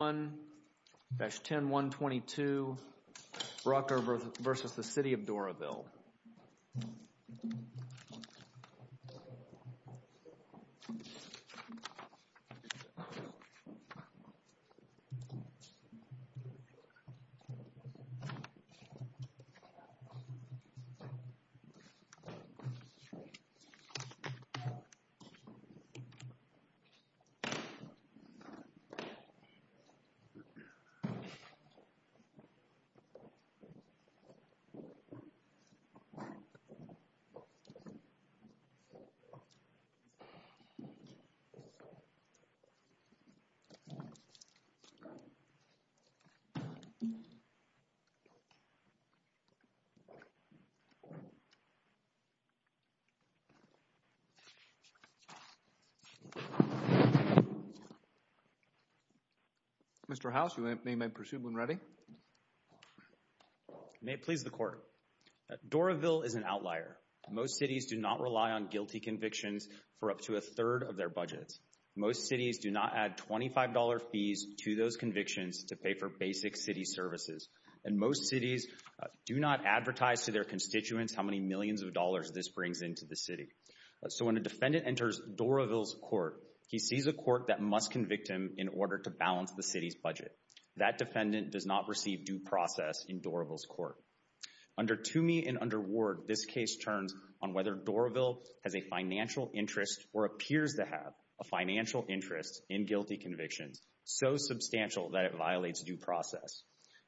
1-10122, Brucker versus the City of Doraville. 1-10122, Brucker versus the City of Doraville. Mr. House, you may proceed when ready. May it please the Court. Doraville is an outlier. Most cities do not rely on guilty convictions for up to a third of their budgets. Most cities do not add $25 fees to those convictions to pay for basic city services. And most cities do not advertise to their constituents how many millions of dollars this brings into the city. So when a defendant enters Doraville's court, he sees a court that must convict him in order to balance the city's budget. That defendant does not receive due process in Doraville's court. Under Toomey and under Ward, this case turns on whether Doraville has a financial interest or appears to have a financial interest in guilty convictions so substantial that it violates due process.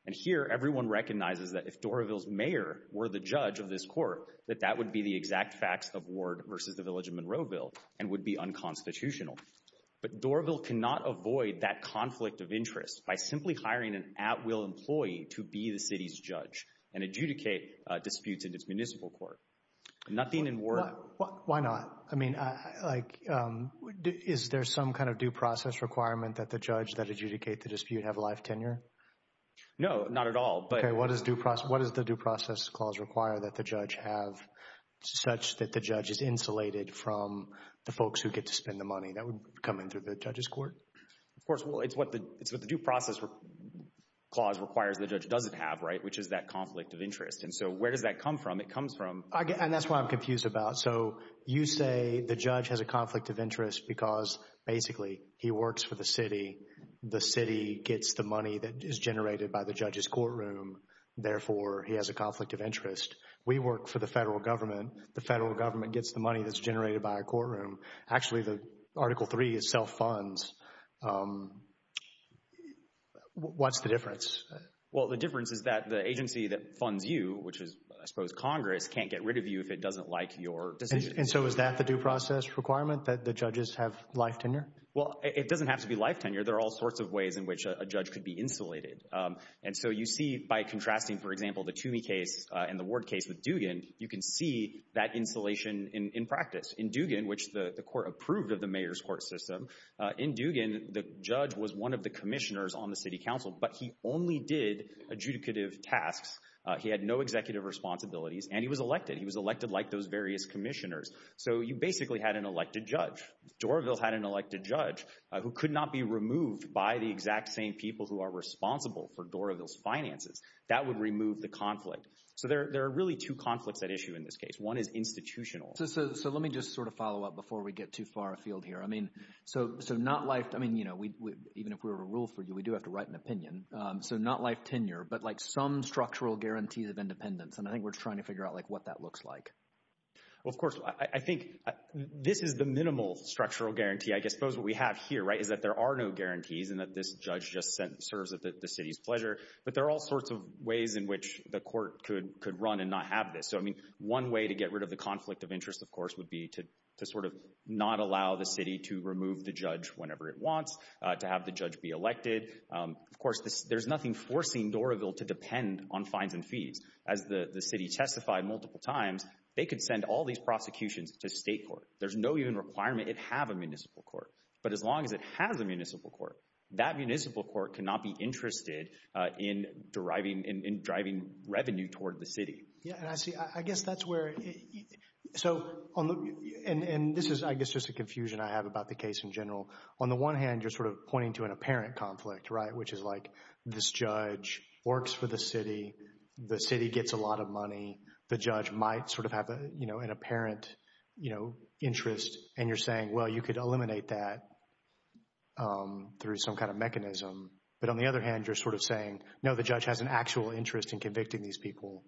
And here, everyone recognizes that if Doraville's mayor were the judge of this court, that that would be the exact facts of Ward versus the Village of Monroe Bill and would be unconstitutional. But Doraville cannot avoid that conflict of interest by simply hiring an at-will employee to be the city's judge and adjudicate disputes in its municipal court. Nothing in Ward. Why not? I mean, is there some kind of due process requirement that the judge that adjudicate the dispute have life tenure? No, not at all. OK, what does the due process clause require that the judge have such that the judge is insulated from the folks who get to spend the money? That would come in through the judge's court? Of course, well, it's what the due process clause requires the judge doesn't have, which is that conflict of interest. And so where does that come from? It comes from- And that's what I'm confused about. So you say the judge has a conflict of interest because, basically, he works for the city. The city gets the money that is generated by the judge's courtroom. Therefore, he has a conflict of interest. We work for the federal government. The federal government gets the money that's generated by a courtroom. Actually, the Article III is self-funds. What's the difference? Well, the difference is that the agency that funds you, which is, I suppose, Congress, can't get rid of you if it doesn't like your decision. And so is that the due process requirement that the judges have life tenure? Well, it doesn't have to be life tenure. There are all sorts of ways in which a judge could be insulated. And so you see, by contrasting, for example, the Toomey case and the Ward case with Dugan, you can see that insulation in practice. In Dugan, which the court approved of the mayor's court system, in Dugan, the judge was one of the commissioners on the city council, but he only did adjudicative tasks. He had no executive responsibilities, and he was elected. He was elected like those various commissioners. So you basically had an elected judge. Doroville had an elected judge who could not be removed by the exact same people who are responsible for Doroville's finances. That would remove the conflict. So there are really two conflicts at issue in this case. One is institutional. So let me just sort of follow up before we get too far afield here. I mean, so not life, I mean, you know, even if we were to rule for you, we do have to write an opinion. So not life tenure, but like some structural guarantees of independence. And I think we're trying to figure out like what that looks like. Well, of course, I think this is the minimal structural guarantee. I suppose what we have here, right, is that there are no guarantees and that this judge just serves the city's pleasure. But there are all sorts of ways in which the court could run and not have this. So I mean, one way to get rid of the conflict of interest, of course, would be to sort of not allow the city to remove the judge whenever it wants, to have the judge be elected. Of course, there's nothing forcing Doroville to depend on fines and fees. As the city testified multiple times, they could send all these prosecutions to state court. There's no even requirement it have a municipal court. But as long as it has a municipal court, that municipal court cannot be interested in driving revenue toward the city. Yeah, and I see, I guess that's where, so, and this is, I guess, just a confusion I have about the case in general. On the one hand, you're sort of pointing to an apparent conflict, right, which is like this judge works for the city, the city gets a lot of money, the judge might sort of have an apparent interest, and you're saying, well, you could eliminate that through some kind of mechanism. But on the other hand, you're sort of saying, no, the judge has an actual interest in convicting these people.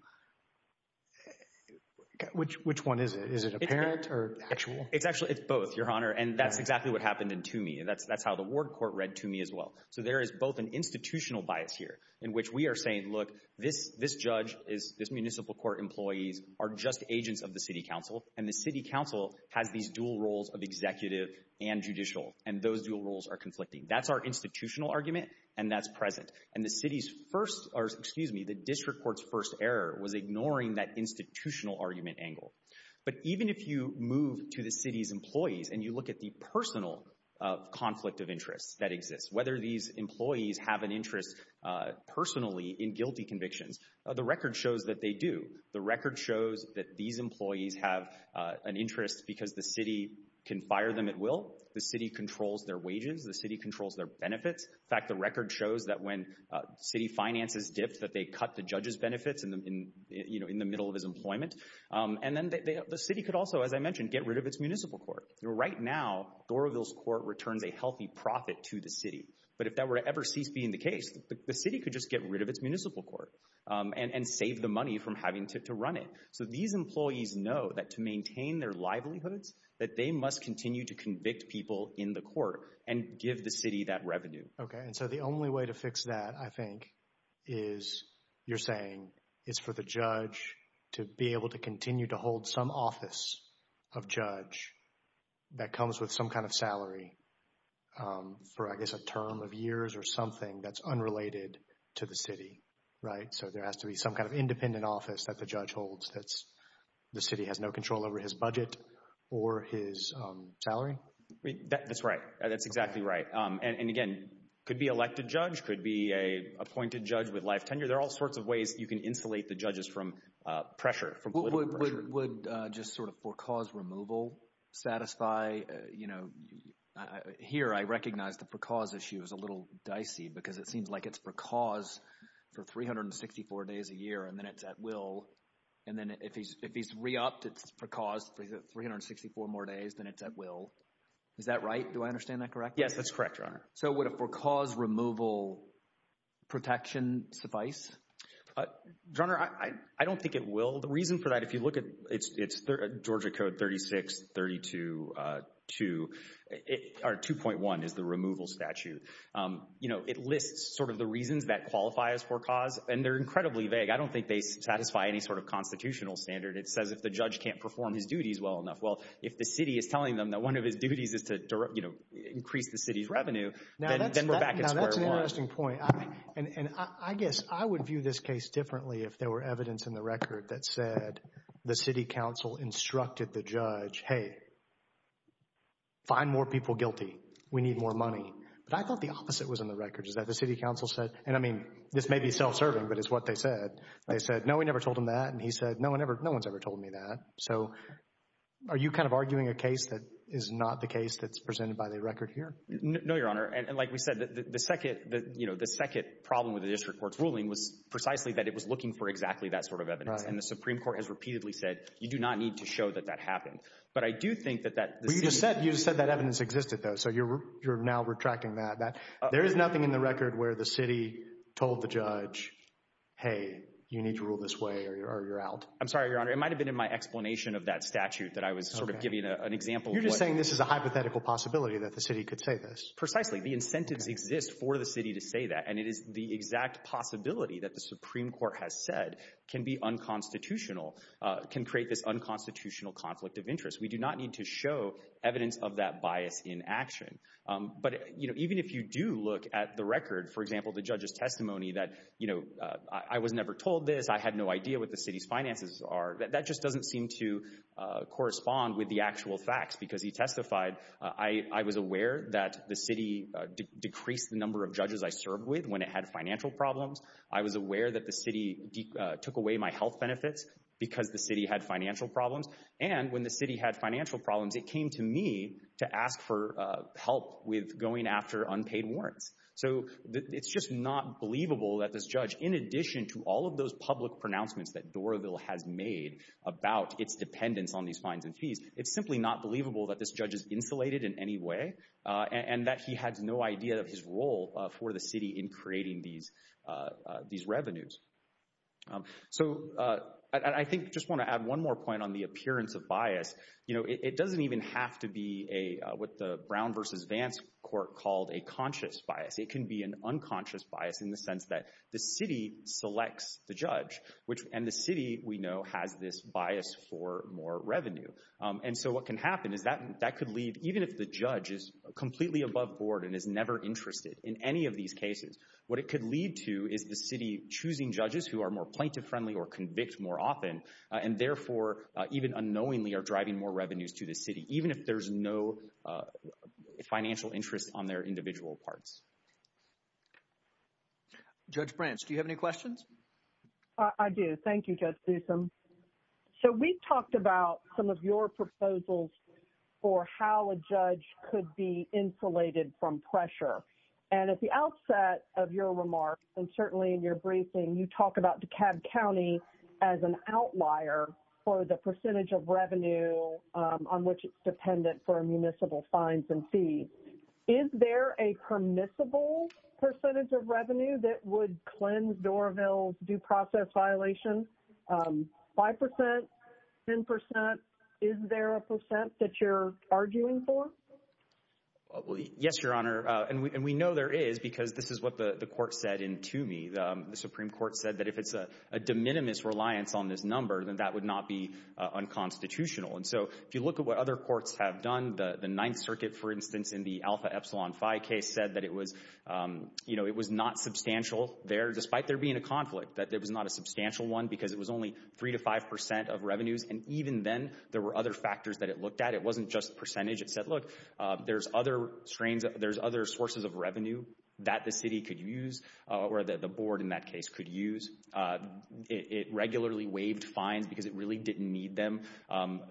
Which one is it, is it apparent or actual? It's actually, it's both, Your Honor, and that's exactly what happened in Toomey. That's how the Ward Court read Toomey as well. So there is both an institutional bias here in which we are saying, look, this judge, this municipal court employees are just agents of the city council, and the city council has these dual roles of executive and judicial, and those dual roles are conflicting. That's our institutional argument, and that's present. And the city's first, or excuse me, the district court's first error was ignoring that institutional argument angle. But even if you move to the city's employees, and you look at the personal conflict of interest that exists, whether these employees have an interest personally in guilty convictions, the record shows that they do. The record shows that these employees have an interest because the city can fire them at will, the city controls their wages, the city controls their benefits. In fact, the record shows that when city finances dipped, that they cut the judge's benefits in the middle of his employment. And then the city could also, as I mentioned, get rid of its municipal court. Right now, Thoroughville's court returns a healthy profit to the city. But if that were to ever cease being the case, the city could just get rid of its municipal court, and save the money from having to run it. So these employees know that to maintain their livelihoods, that they must continue to convict people in the court, and give the city that revenue. Okay, and so the only way to fix that, I think, is, you're saying, is for the judge to be able to continue to hold some office of judge that comes with some kind of salary for, I guess, a term of years or something that's unrelated to the city, right? So there has to be some kind of independent office that the judge holds that the city has no control over his budget or his salary? That's right, that's exactly right. And again, could be elected judge, could be a appointed judge with life tenure. There are all sorts of ways you can insulate the judges from pressure, from political pressure. Would just sort of for-cause removal satisfy, here I recognize the for-cause issue is a little dicey, because it seems like it's for-cause for 364 days a year, and then it's at will. And then if he's re-opted for-cause for 364 more days, then it's at will. Is that right, do I understand that correctly? Yes, that's correct, Your Honor. So would a for-cause removal protection suffice? Your Honor, I don't think it will. The reason for that, if you look at, it's Georgia Code 36-32-2, or 2.1 is the removal statute. It lists sort of the reasons that qualify as for-cause, and they're incredibly vague. I don't think they satisfy any sort of constitutional standard. It says if the judge can't perform his duties well enough. Well, if the city is telling them that one of his duties is to increase the city's revenue, then we're back at square one. Now, that's an interesting point. And I guess I would view this case differently if there were evidence in the record that said the city council instructed the judge, hey, find more people guilty, we need more money. But I thought the opposite was in the record, is that the city council said, and I mean, this may be self-serving, but it's what they said. They said, no, we never told him that. And he said, no, no one's ever told me that. So are you kind of arguing a case that is not the case that's presented by the record here? No, Your Honor. And like we said, the second problem with the district court's ruling was precisely that it was looking for exactly that sort of evidence. And the Supreme Court has repeatedly said, you do not need to show that that happened. But I do think that that- Well, you just said that evidence existed, though. So you're now retracting that. There is nothing in the record where the city told the judge, hey, you need to rule this way or you're out. I'm sorry, Your Honor. It might've been in my explanation of that statute that I was sort of giving an example. You're just saying this is a hypothetical possibility that the city could say this. Precisely. The incentives exist for the city to say that. And it is the exact possibility that the Supreme Court has said can be unconstitutional, can create this unconstitutional conflict of interest. We do not need to show evidence of that bias in action. But even if you do look at the record, for example, the judge's testimony that I was never told this, I had no idea what the city's finances are, that just doesn't seem to correspond with the actual facts because he testified, I was aware that the city decreased the number of judges I served with when it had financial problems. I was aware that the city took away my health benefits because the city had financial problems. And when the city had financial problems, it came to me to ask for help with going after unpaid warrants. So it's just not believable that this judge, in addition to all of those public pronouncements that Doroville has made about its dependence on these fines and fees, it's simply not believable that this judge is insulated in any way and that he has no idea of his role for the city in creating these revenues. So I think just want to add one more point on the appearance of bias. It doesn't even have to be what the Brown versus Vance court called a conscious bias. It can be an unconscious bias in the sense that the city selects the judge and the city, we know, has this bias for more revenue. And so what can happen is that could leave, even if the judge is completely above board and is never interested in any of these cases, what it could lead to is the city choosing judges who are more plaintiff-friendly or convict more often, and therefore, even unknowingly, are driving more revenues to the city, even if there's no financial interest on their individual parts. Thanks. Judge Branch, do you have any questions? I do. Thank you, Judge Gleeson. So we've talked about some of your proposals for how a judge could be insulated from pressure. And at the outset of your remarks, and certainly in your briefing, you talk about DeKalb County as an outlier for the percentage of revenue on which it's dependent for municipal fines and fees. Is there a permissible percentage of revenue that would cleanse Doraville's due process violation? 5%, 10%, is there a percent that you're arguing for? Yes, Your Honor, and we know there is because this is what the court said to me. The Supreme Court said that if it's a de minimis reliance on this number, then that would not be unconstitutional. And so if you look at what other courts have done, the Ninth Circuit, for instance, in the Alpha Epsilon Phi case said that it was not substantial there, despite there being a conflict, that it was not a substantial one because it was only 3% to 5% of revenues. And even then, there were other factors that it looked at. It wasn't just percentage. It said, look, there's other sources of revenue that the city could use, or that the board in that case could use. It regularly waived fines because it really didn't need them.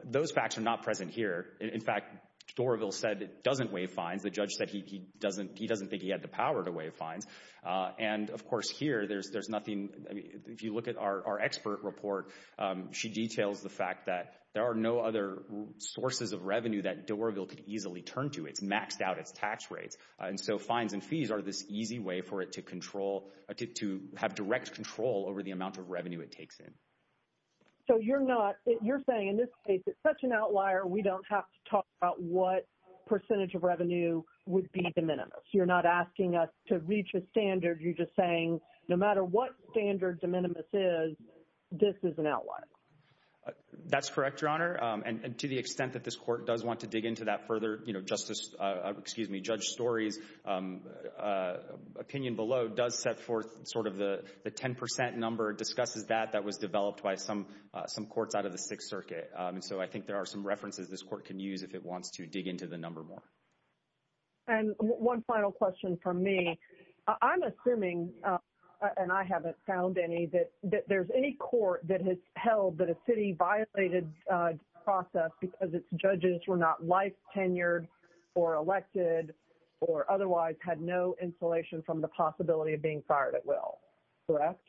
Those facts are not present here. In fact, Doraville said it doesn't waive fines. The judge said he doesn't think he had the power to waive fines. And of course, here, there's nothing. If you look at our expert report, she details the fact that there are no other sources of revenue that Doraville could easily turn to. It's maxed out its tax rates. And so fines and fees are this easy way for it to have direct control over the amount of revenue it takes in. So you're saying in this case, it's such an outlier, we don't have to talk about what percentage of revenue would be de minimis. You're not asking us to reach a standard. You're just saying, no matter what standard de minimis is, this is an outlier. That's correct, Your Honor. And to the extent that this court does want to dig into that further, Justice, excuse me, Judge Story's opinion below does set forth sort of the 10% number, discusses that that was developed by some courts out of the Sixth Circuit. And so I think there are some references this court can use if it wants to dig into the number more. And one final question from me. I'm assuming, and I haven't found any, that there's any court that has held that a city violated process because its judges were not life tenured or elected or otherwise had no insulation Correct?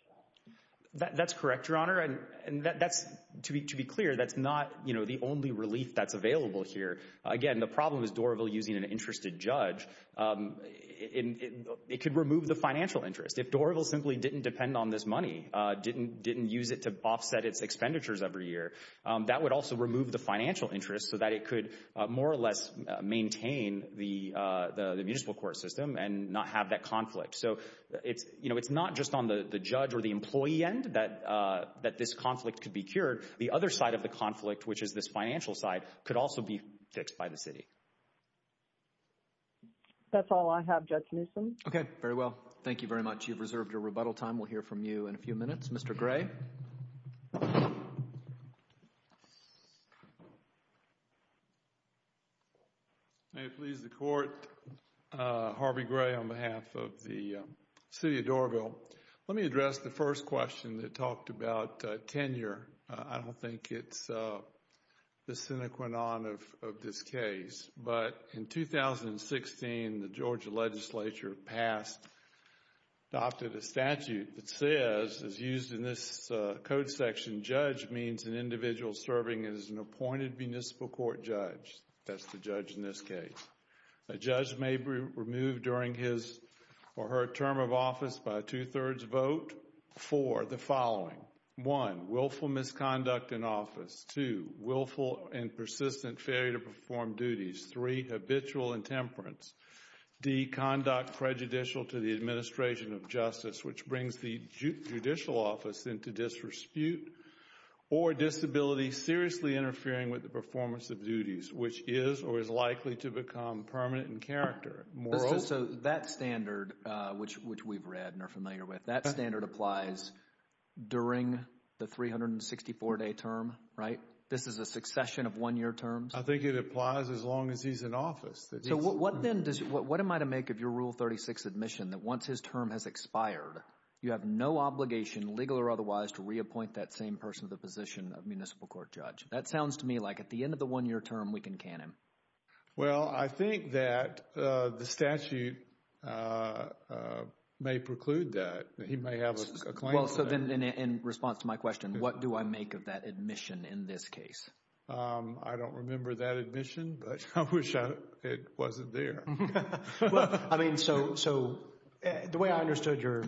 That's correct, Your Honor. And that's, to be clear, that's not the only relief that's available here. Again, the problem is Dorival using an interested judge. It could remove the financial interest. If Dorival simply didn't depend on this money, didn't use it to offset its expenditures every year, that would also remove the financial interest so that it could more or less maintain the municipal court system and not have that conflict. So it's not just on the judge or the employee end that this conflict could be cured. The other side of the conflict, which is this financial side, could also be fixed by the city. That's all I have, Judge Newsom. Okay, very well. Thank you very much. You've reserved your rebuttal time. We'll hear from you in a few minutes. May it please the court. Harvey Gray on behalf of the city of Dorival. Let me address the first question that talked about tenure. I don't think it's the sine qua non of this case, but in 2016, the Georgia legislature passed, adopted a statute that says, as used in this code section, judge means an individual serving as an appointed municipal court judge. That's the judge in this case. A judge may be removed during his or her term of office by a two-thirds vote for the following. One, willful misconduct in office. Two, willful and persistent failure to perform duties. Three, habitual intemperance. D, conduct prejudicial to the administration of justice, which brings the judicial office into disrespute, or disability seriously interfering with the performance of duties, which is or is likely to become permanent in character. Moral. So that standard, which we've read and are familiar with, that standard applies during the 364-day term, right? This is a succession of one-year terms? I think it applies as long as he's in office. So what then, what am I to make of your Rule 36 admission that once his term has expired, you have no obligation, legal or otherwise, to reappoint that same person to the position of municipal court judge? That sounds to me like at the end of the one-year term, we can can him. Well, I think that the statute may preclude that. He may have a claim to that. Well, so then in response to my question, what do I make of that admission in this case? I don't remember that admission, but I wish it wasn't there. I mean, so the way I understood your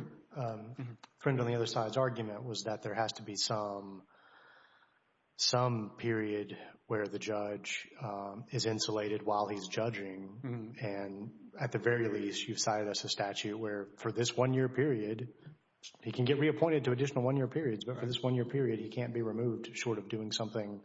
friend on the other side's argument was that there has to be some period where the judge is insulated while he's judging. And at the very least, you've cited us a statute where for this one-year period, he can get reappointed to additional one-year periods, but for this one-year period, he can't be removed short of doing something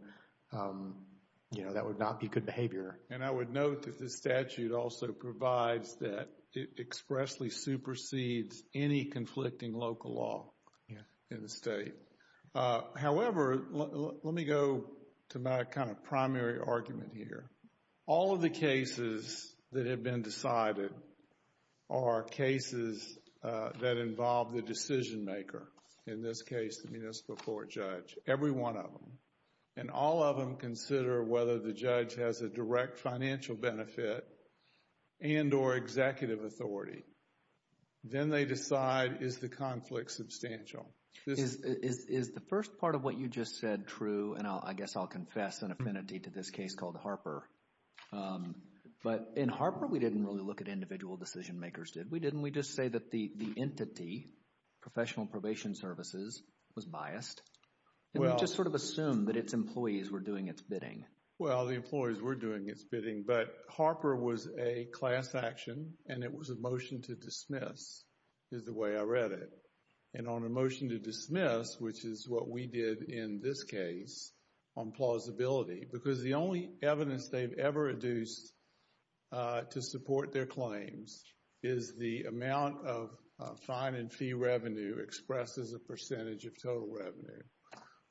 that would not be good behavior. And I would note that the statute also provides that it expressly supersedes any conflicting local law in the state. However, let me go to my kind of primary argument here. All of the cases that have been decided are cases that involve the decision maker. In this case, the municipal court judge, every one of them. And all of them consider whether the judge has a direct financial benefit and or executive authority. Then they decide, is the conflict substantial? Is the first part of what you just said true? And I guess I'll confess an affinity to this case called Harper. But in Harper, we didn't really look at individual decision makers, did we? Didn't we just say that the entity, professional probation services, was biased? And we just sort of assumed that its employees were doing its bidding. Well, the employees were doing its bidding, but Harper was a class action and it was a motion to dismiss, is the way I read it. And on a motion to dismiss, which is what we did in this case, on plausibility. Because the only evidence they've ever reduced to support their claims is the amount of fine and fee revenue expressed as a percentage of total revenue.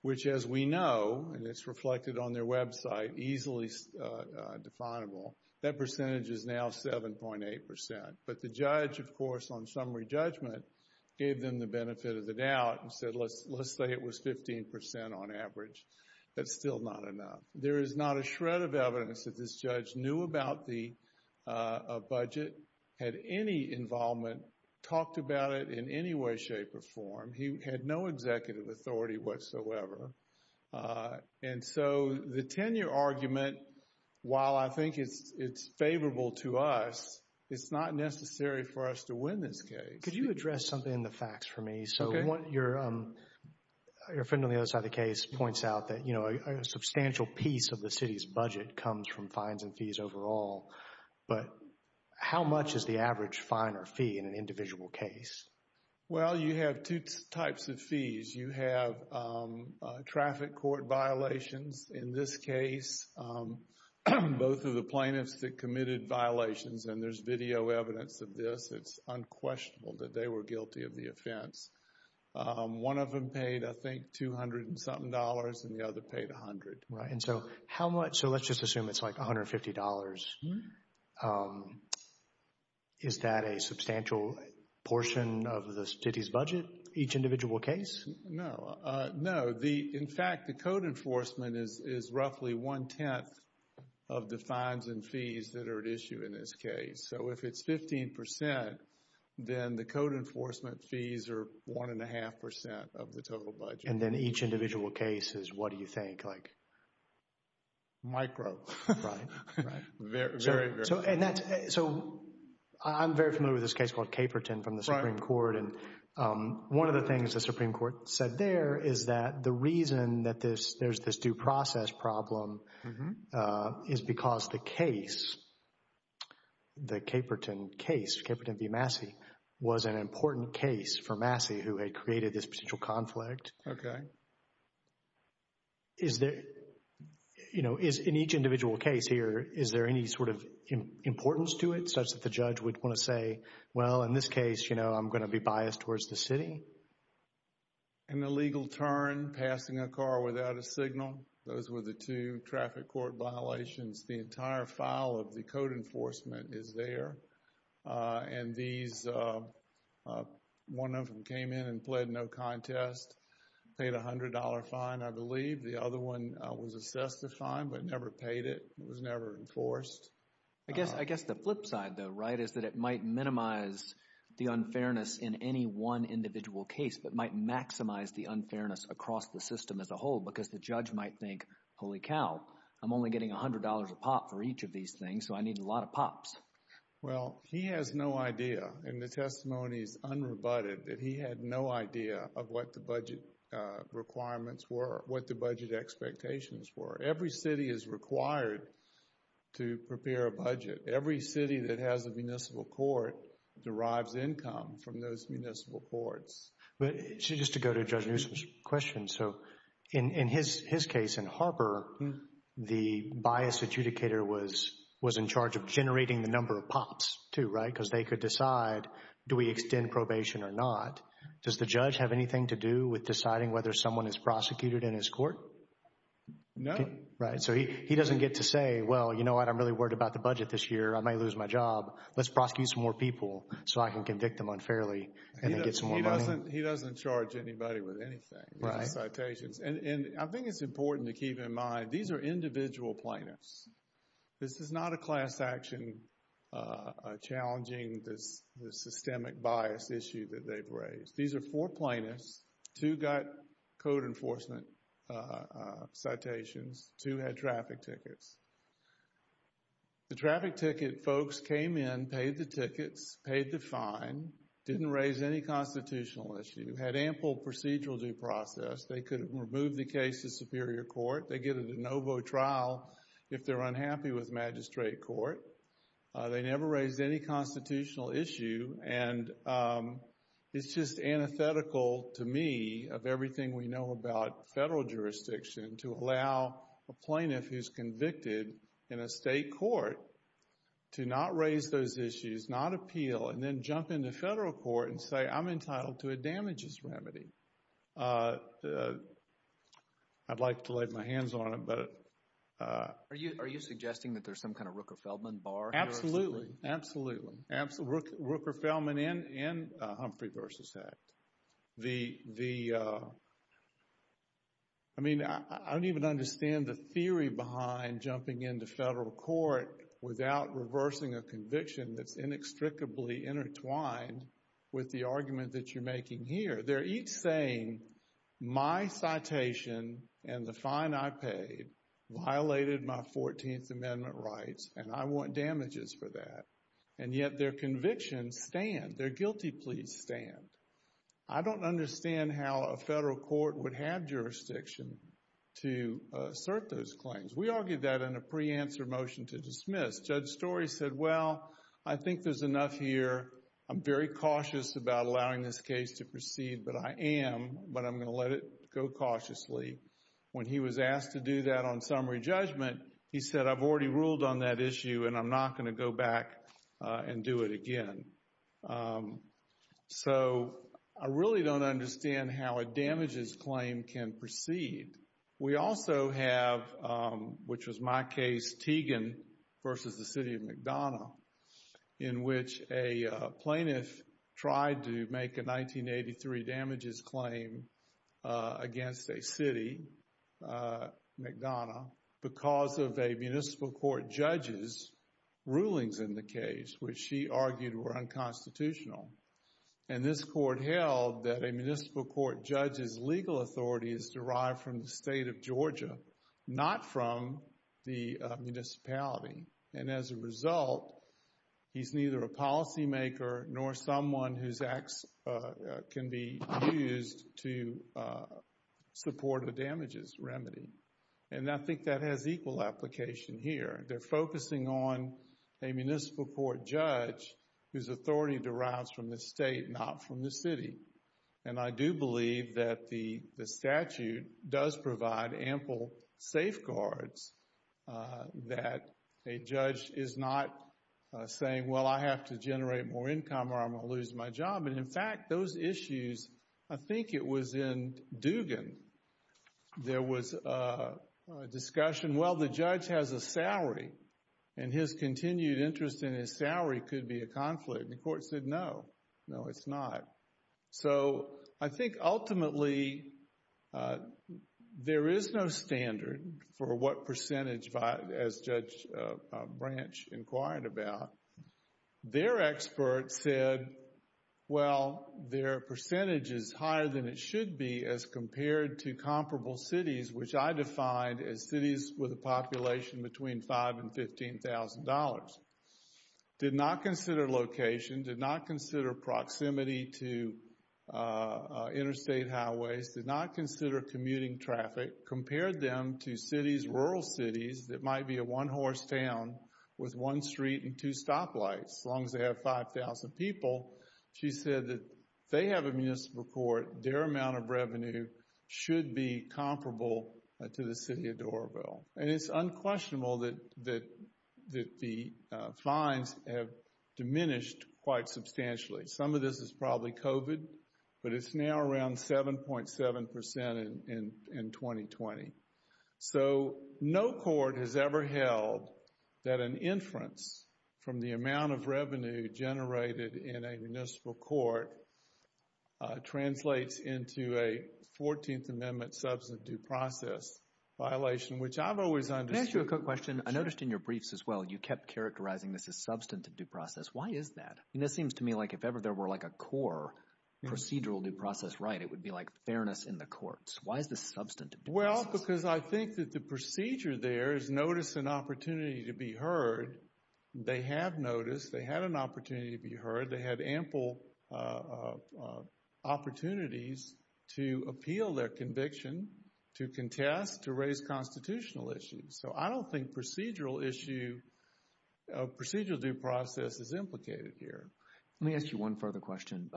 Which, as we know, and it's reflected on their website, easily definable, that percentage is now 7.8%. But the judge, of course, on summary judgment, gave them the benefit of the doubt and said, let's say it was 15% on average. That's still not enough. There is not a shred of evidence that this judge knew about the budget, had any involvement, talked about it in any way, shape, or form. He had no executive authority whatsoever. And so the tenure argument, while I think it's favorable to us, it's not necessary for us to win this case. Could you address something in the facts for me? So your friend on the other side of the case points out that a substantial piece of the city's budget comes from fines and fees overall. But how much is the average fine or fee in an individual case? Well, you have two types of fees. You have traffic court violations in this case. Both of the plaintiffs that committed violations, and there's video evidence of this. It's unquestionable that they were guilty of the offense. One of them paid, I think, 200 and something dollars and the other paid 100. Right, and so how much, so let's just assume it's like $150. Is that a substantial portion of the city's budget, each individual case? No, no. In fact, the code enforcement is roughly 110th of the fines and fees that are at issue in this case. So if it's 15%, then the code enforcement fees are 1 1⁄2% of the total budget. And then each individual case is what do you think, like? Micro. Right, right. Very, very. So, and that's, so I'm very familiar with this case called Caperton from the Supreme Court. And one of the things the Supreme Court said there is that the reason that there's this due process problem is because the case, the Caperton case, Caperton v. Massey, was an important case for Massey who had created this potential conflict. Okay. Is there, you know, in each individual case here, is there any sort of importance to it such that the judge would want to say, well, in this case, you know, I'm going to be biased towards the city? An illegal turn, passing a car without a signal. Those were the two traffic court violations. The entire file of the code enforcement is there. And these, one of them came in and pled no contest, paid a $100 fine, I believe. The other one was assessed a fine, but never paid it. It was never enforced. I guess the flip side though, right, is that it might minimize the unfairness in any one individual case, but might maximize the unfairness across the system as a whole because the judge might think, holy cow, I'm only getting $100 a pop for each of these things, so I need a lot of pops. Well, he has no idea, and the testimony is unrebutted, that he had no idea of what the budget requirements were, what the budget expectations were. Every city is required to prepare a budget. Every city that has a municipal court derives income from those municipal courts. But just to go to Judge Newsom's question, so in his case in Harper, the bias adjudicator was in charge of generating the number of pops too, right? Because they could decide, do we extend probation or not? Does the judge have anything to do with deciding whether someone is prosecuted in his court? No. Right, so he doesn't get to say, well, you know what? I'm really worried about the budget this year. I might lose my job. Let's prosecute some more people so I can convict them unfairly and then get some more money. He doesn't charge anybody with anything. Citations, and I think it's important to keep in mind, these are individual plaintiffs. This is not a class action challenging the systemic bias issue that they've raised. These are four plaintiffs. Two got code enforcement citations. Two had traffic tickets. The traffic ticket folks came in, paid the tickets, paid the fine, didn't raise any constitutional issue, had ample procedural due process. They could remove the case to superior court. They get a de novo trial if they're unhappy with magistrate court. They never raised any constitutional issue, and it's just antithetical to me of everything we know about federal jurisdiction to allow a plaintiff who's convicted in a state court to not raise those issues, not appeal, and then jump into federal court and say, I'm entitled to a damages remedy. I'd like to lay my hands on it, but. Are you suggesting that there's some kind of Rooker-Feldman bar here? Absolutely, absolutely, absolutely. Rooker-Feldman and Humphrey v. Act. I mean, I don't even understand the theory behind jumping into federal court without reversing a conviction that's inextricably intertwined with the argument that you're making here. They're each saying, my citation and the fine I paid violated my 14th Amendment rights, and I want damages for that, and yet their convictions stand, their guilty pleas stand. I don't understand how a federal court would have jurisdiction to assert those claims. We argued that in a pre-answer motion to dismiss. Judge Story said, well, I think there's enough here. I'm very cautious about allowing this case to proceed, but I am, but I'm gonna let it go cautiously. When he was asked to do that on summary judgment, he said, I've already ruled on that issue, and I'm not gonna go back and do it again. So I really don't understand how a damages claim can proceed. We also have, which was my case, Tegan versus the city of McDonough, in which a plaintiff tried to make a 1983 damages claim against a city, McDonough, because of a municipal court judge's rulings in the case, which she argued were unconstitutional, and this court held that a municipal court judge's legal authority is derived from the state of Georgia, not from the municipality, and as a result, he's neither a policymaker nor someone whose acts can be used to support a damages remedy, and I think that has equal application here. They're focusing on a municipal court judge whose authority derives from the state, not from the city, and I do believe that the statute does provide ample safeguards that a judge is not saying, well, I have to generate more income or I'm gonna lose my job, and in fact, those issues, I think it was in Dugan, there was a discussion, well, the judge has a salary, and his continued interest in his salary could be a conflict, and the court said, no, no, it's not. So I think ultimately, there is no standard for what percentage, as Judge Branch inquired about. Their expert said, well, their percentage is higher than it should be as compared to comparable cities, which I defined as cities with a population between five and $15,000. Did not consider location, did not consider proximity to interstate highways, did not consider commuting traffic, compared them to cities, rural cities that might be a one-horse town with one street and two stoplights, as long as they have 5,000 people. She said that if they have a municipal court, their amount of revenue should be comparable to the city of Doralville, and it's unquestionable that the fines have diminished quite substantially. Some of this is probably COVID, but it's now around 7.7% in 2020. So no court has ever held that an inference from the amount of revenue generated in a municipal court translates into a 14th Amendment substantive due process violation, which I've always understood. Can I ask you a quick question? I noticed in your briefs as well, you kept characterizing this as substantive due process. Why is that? And this seems to me like if ever there were like a core procedural due process right, it would be like fairness in the courts. Why is this substantive due process? Well, because I think that the procedure there is notice and opportunity to be heard. They have noticed, they had an opportunity to be heard. They had ample opportunities to appeal their conviction, to contest, to raise constitutional issues. So I don't think procedural issue, procedural due process is implicated here. Let me ask you one further question.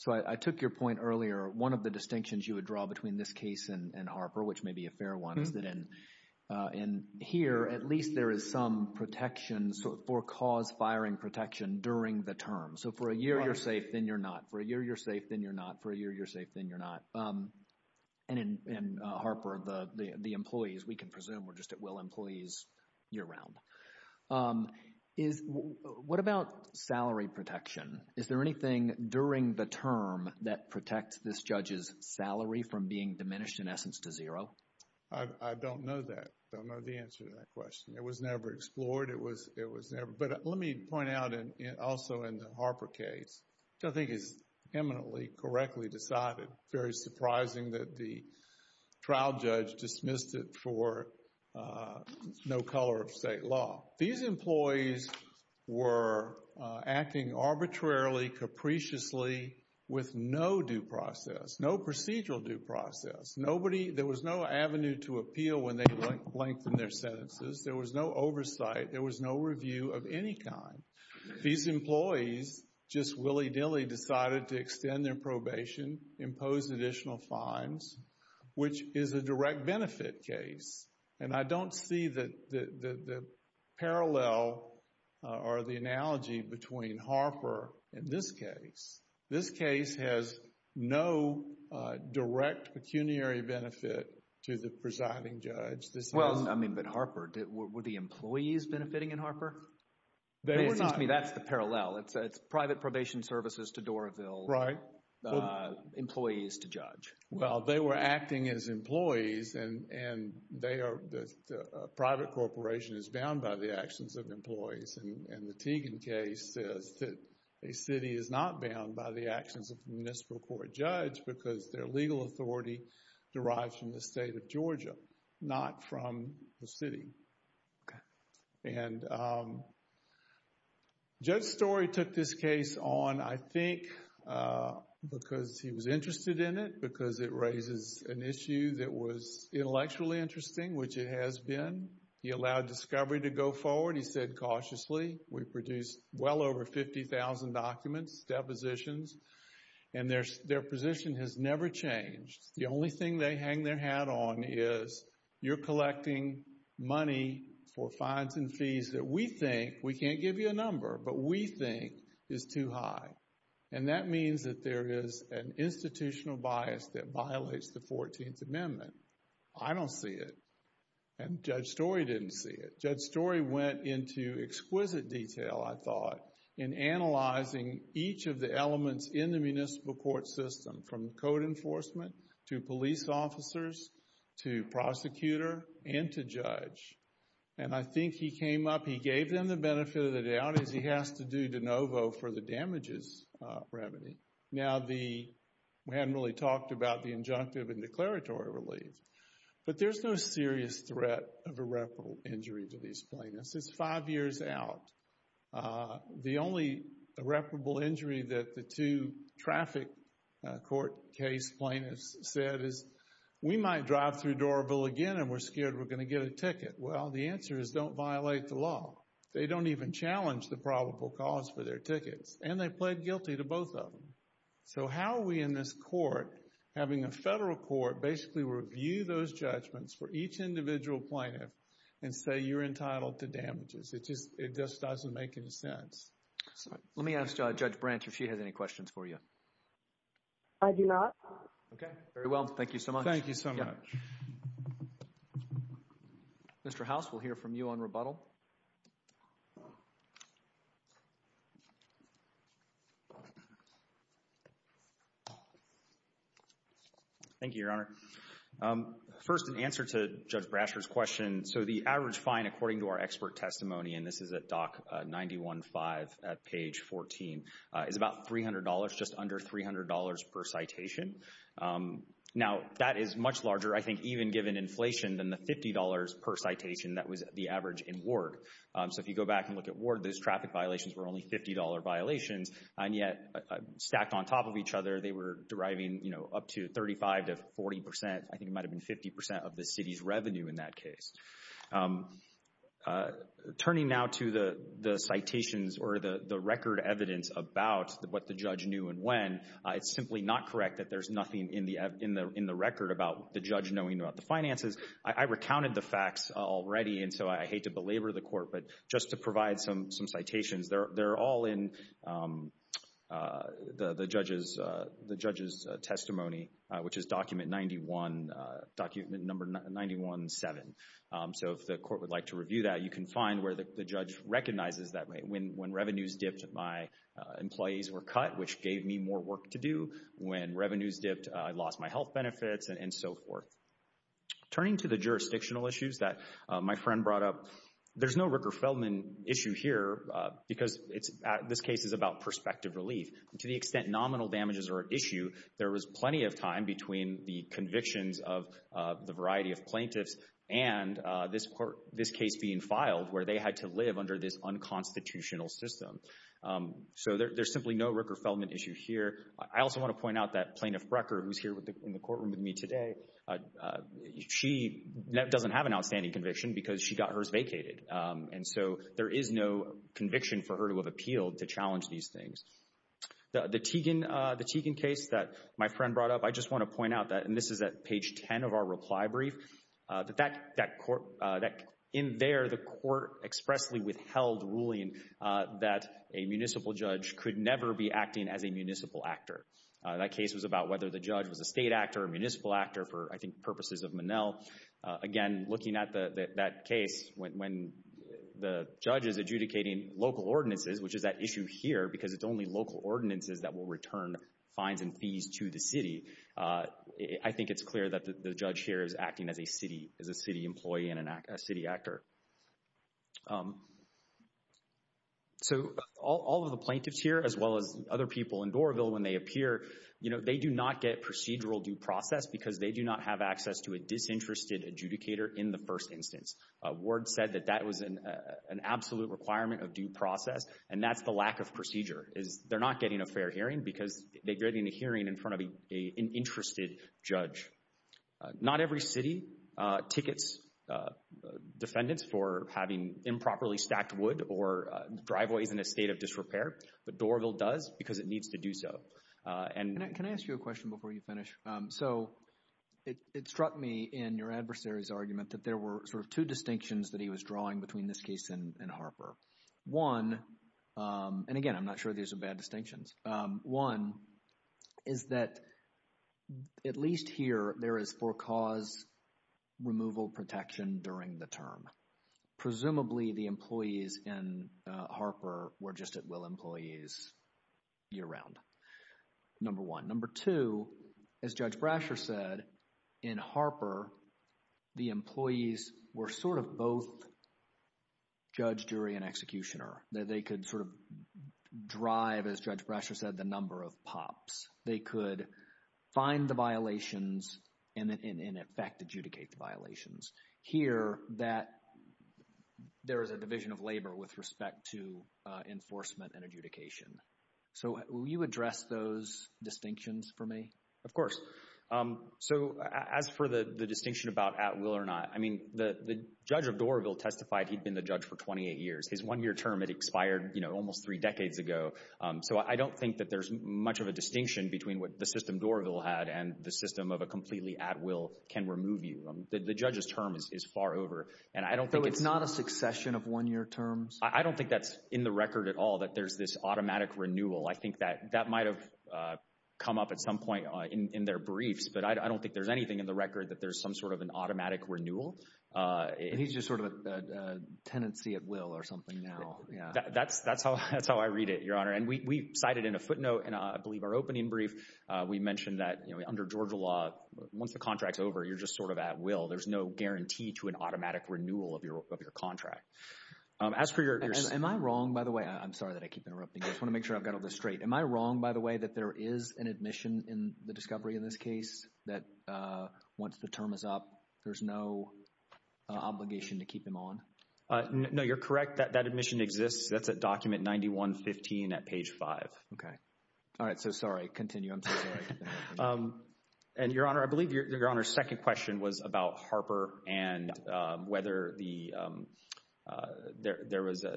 So I took your point earlier, one of the distinctions you would draw between this case and Harper, which may be a fair one, is that in here, at least there is some protection for cause firing protection during the term. So for a year, you're safe, then you're not. For a year, you're safe, then you're not. For a year, you're safe, then you're not. And in Harper, the employees, we can presume we're just at will employees year-round. What about salary protection? Is there anything during the term that protects this judge's salary from being diminished, in essence, to zero? I don't know that, don't know the answer to that question. It was never explored, it was never. But let me point out also in the Harper case, which I think is eminently correctly decided, very surprising that the trial judge dismissed it for no color of state law. These employees were acting arbitrarily, capriciously, with no due process, no procedural due process. Nobody, there was no avenue to appeal when they lengthened their sentences. There was no oversight, there was no review of any kind. These employees just willy-nilly decided to extend their probation, impose additional fines, which is a direct benefit case. And I don't see the parallel or the analogy between Harper and this case. This case has no direct pecuniary benefit to the presiding judge. This has- Well, I mean, but Harper, were the employees benefiting in Harper? They were not- Excuse me, that's the parallel. It's private probation services to Doraville. Right. Employees to judge. Well, they were acting as employees and they are, a private corporation is bound by the actions of employees. And the Teagan case says that a city is not bound by the actions of the municipal court judge because their legal authority derives from the state of Georgia, not from the city. Judge Story took this case on, I think, because he was interested in it, because it raises an issue that was intellectually interesting, which it has been. He allowed discovery to go forward. He said, cautiously, we produced well over 50,000 documents, depositions, and their position has never changed. The only thing they hang their hat on is you're collecting money for fines and fees that we think, we can't give you a number, but we think is too high. And that means that there is an institutional bias that violates the 14th Amendment. I don't see it. And Judge Story didn't see it. Judge Story went into exquisite detail, I thought, in analyzing each of the elements in the municipal court system, from code enforcement to police officers to prosecutor and to judge. And I think he came up, he gave them the benefit of the doubt, as he has to do de novo for the damages remedy. Now, we hadn't really talked about the injunctive and declaratory relief, but there's no serious threat of irreparable injury to these plaintiffs. It's five years out. The only irreparable injury that the two traffic court case plaintiffs said is, we might drive through Dorable again and we're scared we're gonna get a ticket. Well, the answer is, don't violate the law. They don't even challenge the probable cause for their tickets. And they pled guilty to both of them. So how are we in this court, having a federal court basically review those judgments for each individual plaintiff and say you're entitled to damages? It just doesn't make any sense. Let me ask Judge Branch if she has any questions for you. I do not. Okay, very well. Thank you so much. Thank you so much. Mr. House, we'll hear from you on rebuttal. Thank you, Your Honor. First, an answer to Judge Brasher's question. So the average fine, according to our expert testimony, and this is at Doc 91.5 at page 14, is about $300, just under $300 per citation. Now, that is much larger, I think, even given inflation than the $50 per citation that was the average in Ward. So if you go back and look at Ward, those traffic violations were only $50 violations. And yet, stacked on top of each other, they were deriving up to 35 to 40%, I think it might have been 50% of the city's revenue in that case. Turning now to the citations or the record evidence about what the judge knew and when, it's simply not correct that there's nothing in the record about the judge knowing about the finances. I recounted the facts already, and so I hate to belabor the court, but just to provide some citations, they're all in the judge's testimony, which is document number 91.7. So if the court would like to review that, you can find where the judge recognizes that when revenues dipped, my employees were cut, which gave me more work to do. When revenues dipped, I lost my health benefits, and so forth. Turning to the jurisdictional issues that my friend brought up, there's no Rooker-Feldman issue here, because this case is about prospective relief. To the extent nominal damages are an issue, there was plenty of time between the convictions of the variety of plaintiffs and this case being filed, where they had to live under this unconstitutional system. So there's simply no Rooker-Feldman issue here. I also want to point out that Plaintiff Brecker, who's here in the courtroom with me today, she doesn't have an outstanding conviction because she got hers vacated. And so there is no conviction for her to have appealed to challenge these things. The Teigen case that my friend brought up, I just want to point out that, and this is at page 10 of our reply brief, in there, the court expressly withheld ruling that a municipal judge could never be acting as a municipal actor. That case was about whether the judge was a state actor or a municipal actor for, I think, purposes of Monell. Again, looking at that case, when the judge is adjudicating local ordinances, which is that issue here, because it's only local ordinances that will return fines and fees to the city, I think it's clear that the judge here is acting as a city employee and a city actor. So all of the plaintiffs here, as well as other people in Doraville, when they appear, they do not get procedural due process because they do not have access to a disinterested adjudicator in the first instance. Ward said that that was an absolute requirement of due process, and that's the lack of procedure, is they're not getting a fair hearing because they're getting a hearing in front of an interested judge. Not every city tickets defendants for having improperly stacked wood or driveways in a state of disrepair, but Doraville does because it needs to do so. Can I ask you a question before you finish? So it struck me in your adversary's argument that there were sort of two distinctions that he was drawing between this case and Harper. One, and again, I'm not sure these are bad distinctions. One is that at least here, there is for cause removal protection during the term. Presumably the employees in Harper were just at will employees year-round, number one. Number two, as Judge Brasher said, in Harper, the employees were sort of both judge, jury, and executioner. That they could sort of drive, as Judge Brasher said, the number of pops. They could find the violations and in effect adjudicate the violations. Here, that there is a division of labor with respect to enforcement and adjudication. So will you address those distinctions for me? Of course. So as for the distinction about at will or not, I mean, the judge of Doraville testified he'd been the judge for 28 years. His one-year term, it expired almost three decades ago. So I don't think that there's much of a distinction between what the system Doraville had and the system of a completely at will can remove you. The judge's term is far over. And I don't think it's- Is there a distinction of one-year terms? I don't think that's in the record at all that there's this automatic renewal. I think that that might have come up at some point in their briefs, but I don't think there's anything in the record that there's some sort of an automatic renewal. And he's just sort of a tenancy at will or something now. That's how I read it, Your Honor. And we cited in a footnote in, I believe, our opening brief, we mentioned that under Georgia law, once the contract's over, you're just sort of at will. There's no guarantee to an automatic renewal of your contract. As for your- Am I wrong, by the way? I'm sorry that I keep interrupting. I just want to make sure I've got all this straight. Am I wrong, by the way, that there is an admission in the discovery in this case that once the term is up, there's no obligation to keep him on? No, you're correct. That admission exists. That's at document 9115 at page five. Okay. All right, so sorry. Continue, I'm so sorry. And Your Honor, I believe Your Honor's second question was about Harper and whether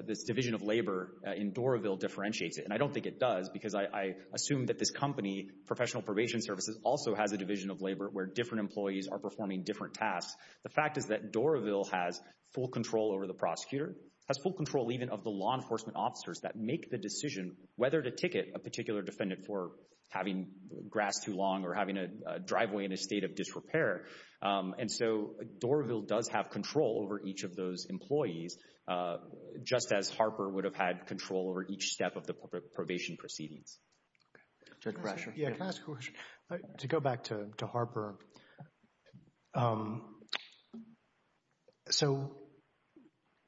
this division of labor in Doraville differentiates it. And I don't think it does because I assume that this company, Professional Probation Services, also has a division of labor where different employees are performing different tasks. The fact is that Doraville has full control over the prosecutor, has full control even of the law enforcement officers that make the decision whether to ticket a particular defendant for having grasped too long or having a driveway in a state of disrepair. And so Doraville does have control over each of those employees, just as Harper would have had control over each step of the probation proceedings. Judge Brasher. Yeah, can I ask a question? To go back to Harper. So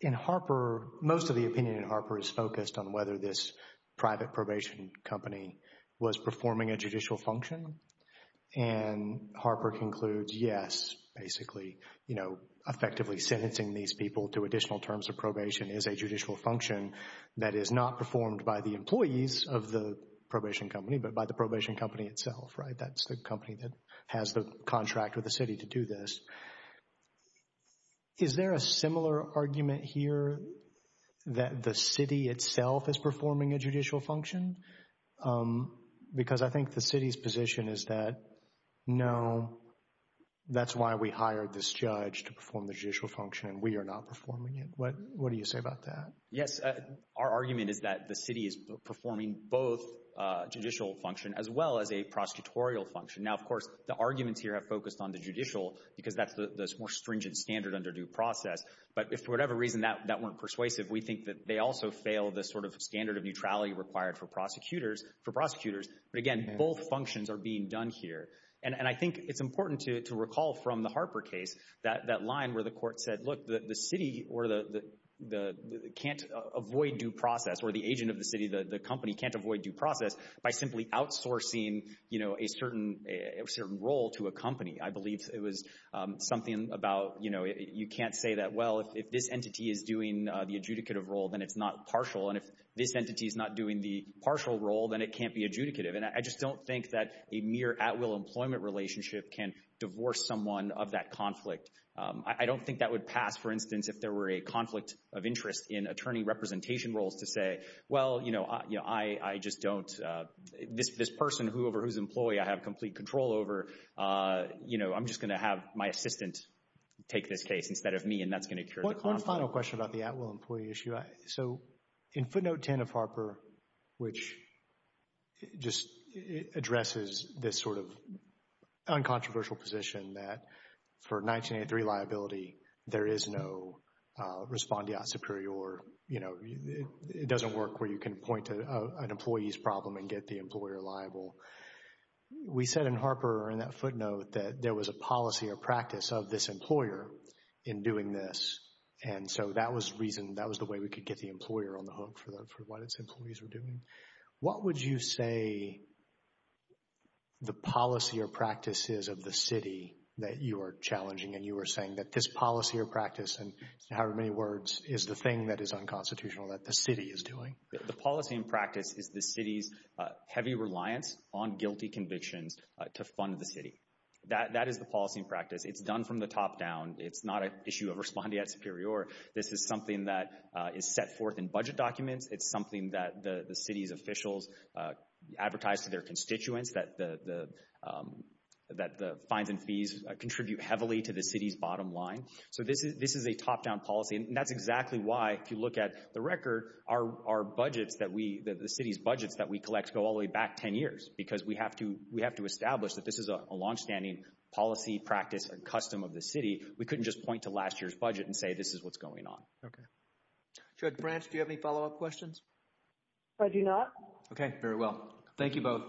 in Harper, most of the opinion in Harper is focused on whether this private probation company was performing a judicial function. And Harper concludes, yes, basically, effectively sentencing these people to additional terms of probation is a judicial function that is not performed by the employees of the probation company, but by the probation company itself, right? That's the company that has the contract with the city to do this. Is there a similar argument here that the city itself is performing a judicial function? Because I think the city's position is that, no, that's why we hired this judge to perform the judicial function and we are not performing it. What do you say about that? Yes, our argument is that the city is performing both judicial function as well as a prosecutorial function. Now, of course, the arguments here have focused on the judicial because that's the more stringent standard under due process. But if for whatever reason that weren't persuasive, we think that they also fail the sort of standard of neutrality required for prosecutors. But again, both functions are being done here. And I think it's important to recall from the Harper case that line where the court said, look, the city can't avoid due process or the agent of the city, the company can't avoid due process by simply outsourcing a certain role to a company. I believe it was something about, you can't say that, well, if this entity is doing the adjudicative role, then it's not partial. And if this entity is not doing the partial role, then it can't be adjudicative. And I just don't think that a mere at-will employment relationship can divorce someone of that conflict. I don't think that would pass, for instance, if there were a conflict of interest in attorney representation roles to say, well, I just don't, this person, whoever, whose employee I have complete control over, I'm just gonna have my assistant take this case instead of me and that's gonna cure the conflict. One final question about the at-will employee issue. So in footnote 10 of Harper, which just addresses this sort of uncontroversial position that for 1983 liability, there is no respondeat superior, you know, it doesn't work where you can point to an employee's problem and get the employer liable. We said in Harper in that footnote that there was a policy or practice of this employer in doing this. And so that was reason, that was the way we could get the employer on the hook for what its employees were doing. What would you say the policy or practice is of the city that you are challenging and you are saying that this policy or practice, in however many words, is the thing that is unconstitutional that the city is doing? The policy and practice is the city's heavy reliance on guilty convictions to fund the city. That is the policy and practice. It's done from the top down. It's not an issue of respondeat superior. This is something that is set forth in budget documents. It's something that the city's officials advertise to their constituents that the fines and fees contribute heavily to the city's bottom line. So this is a top down policy. And that's exactly why, if you look at the record, our budgets that we, the city's budgets that we collect go all the way back 10 years because we have to establish that this is a longstanding policy, practice, and custom of the city. We couldn't just point to last year's budget and say this is what's going on. Okay. Judge Branch, do you have any follow up questions? I do not. Okay, very well. Thank you both.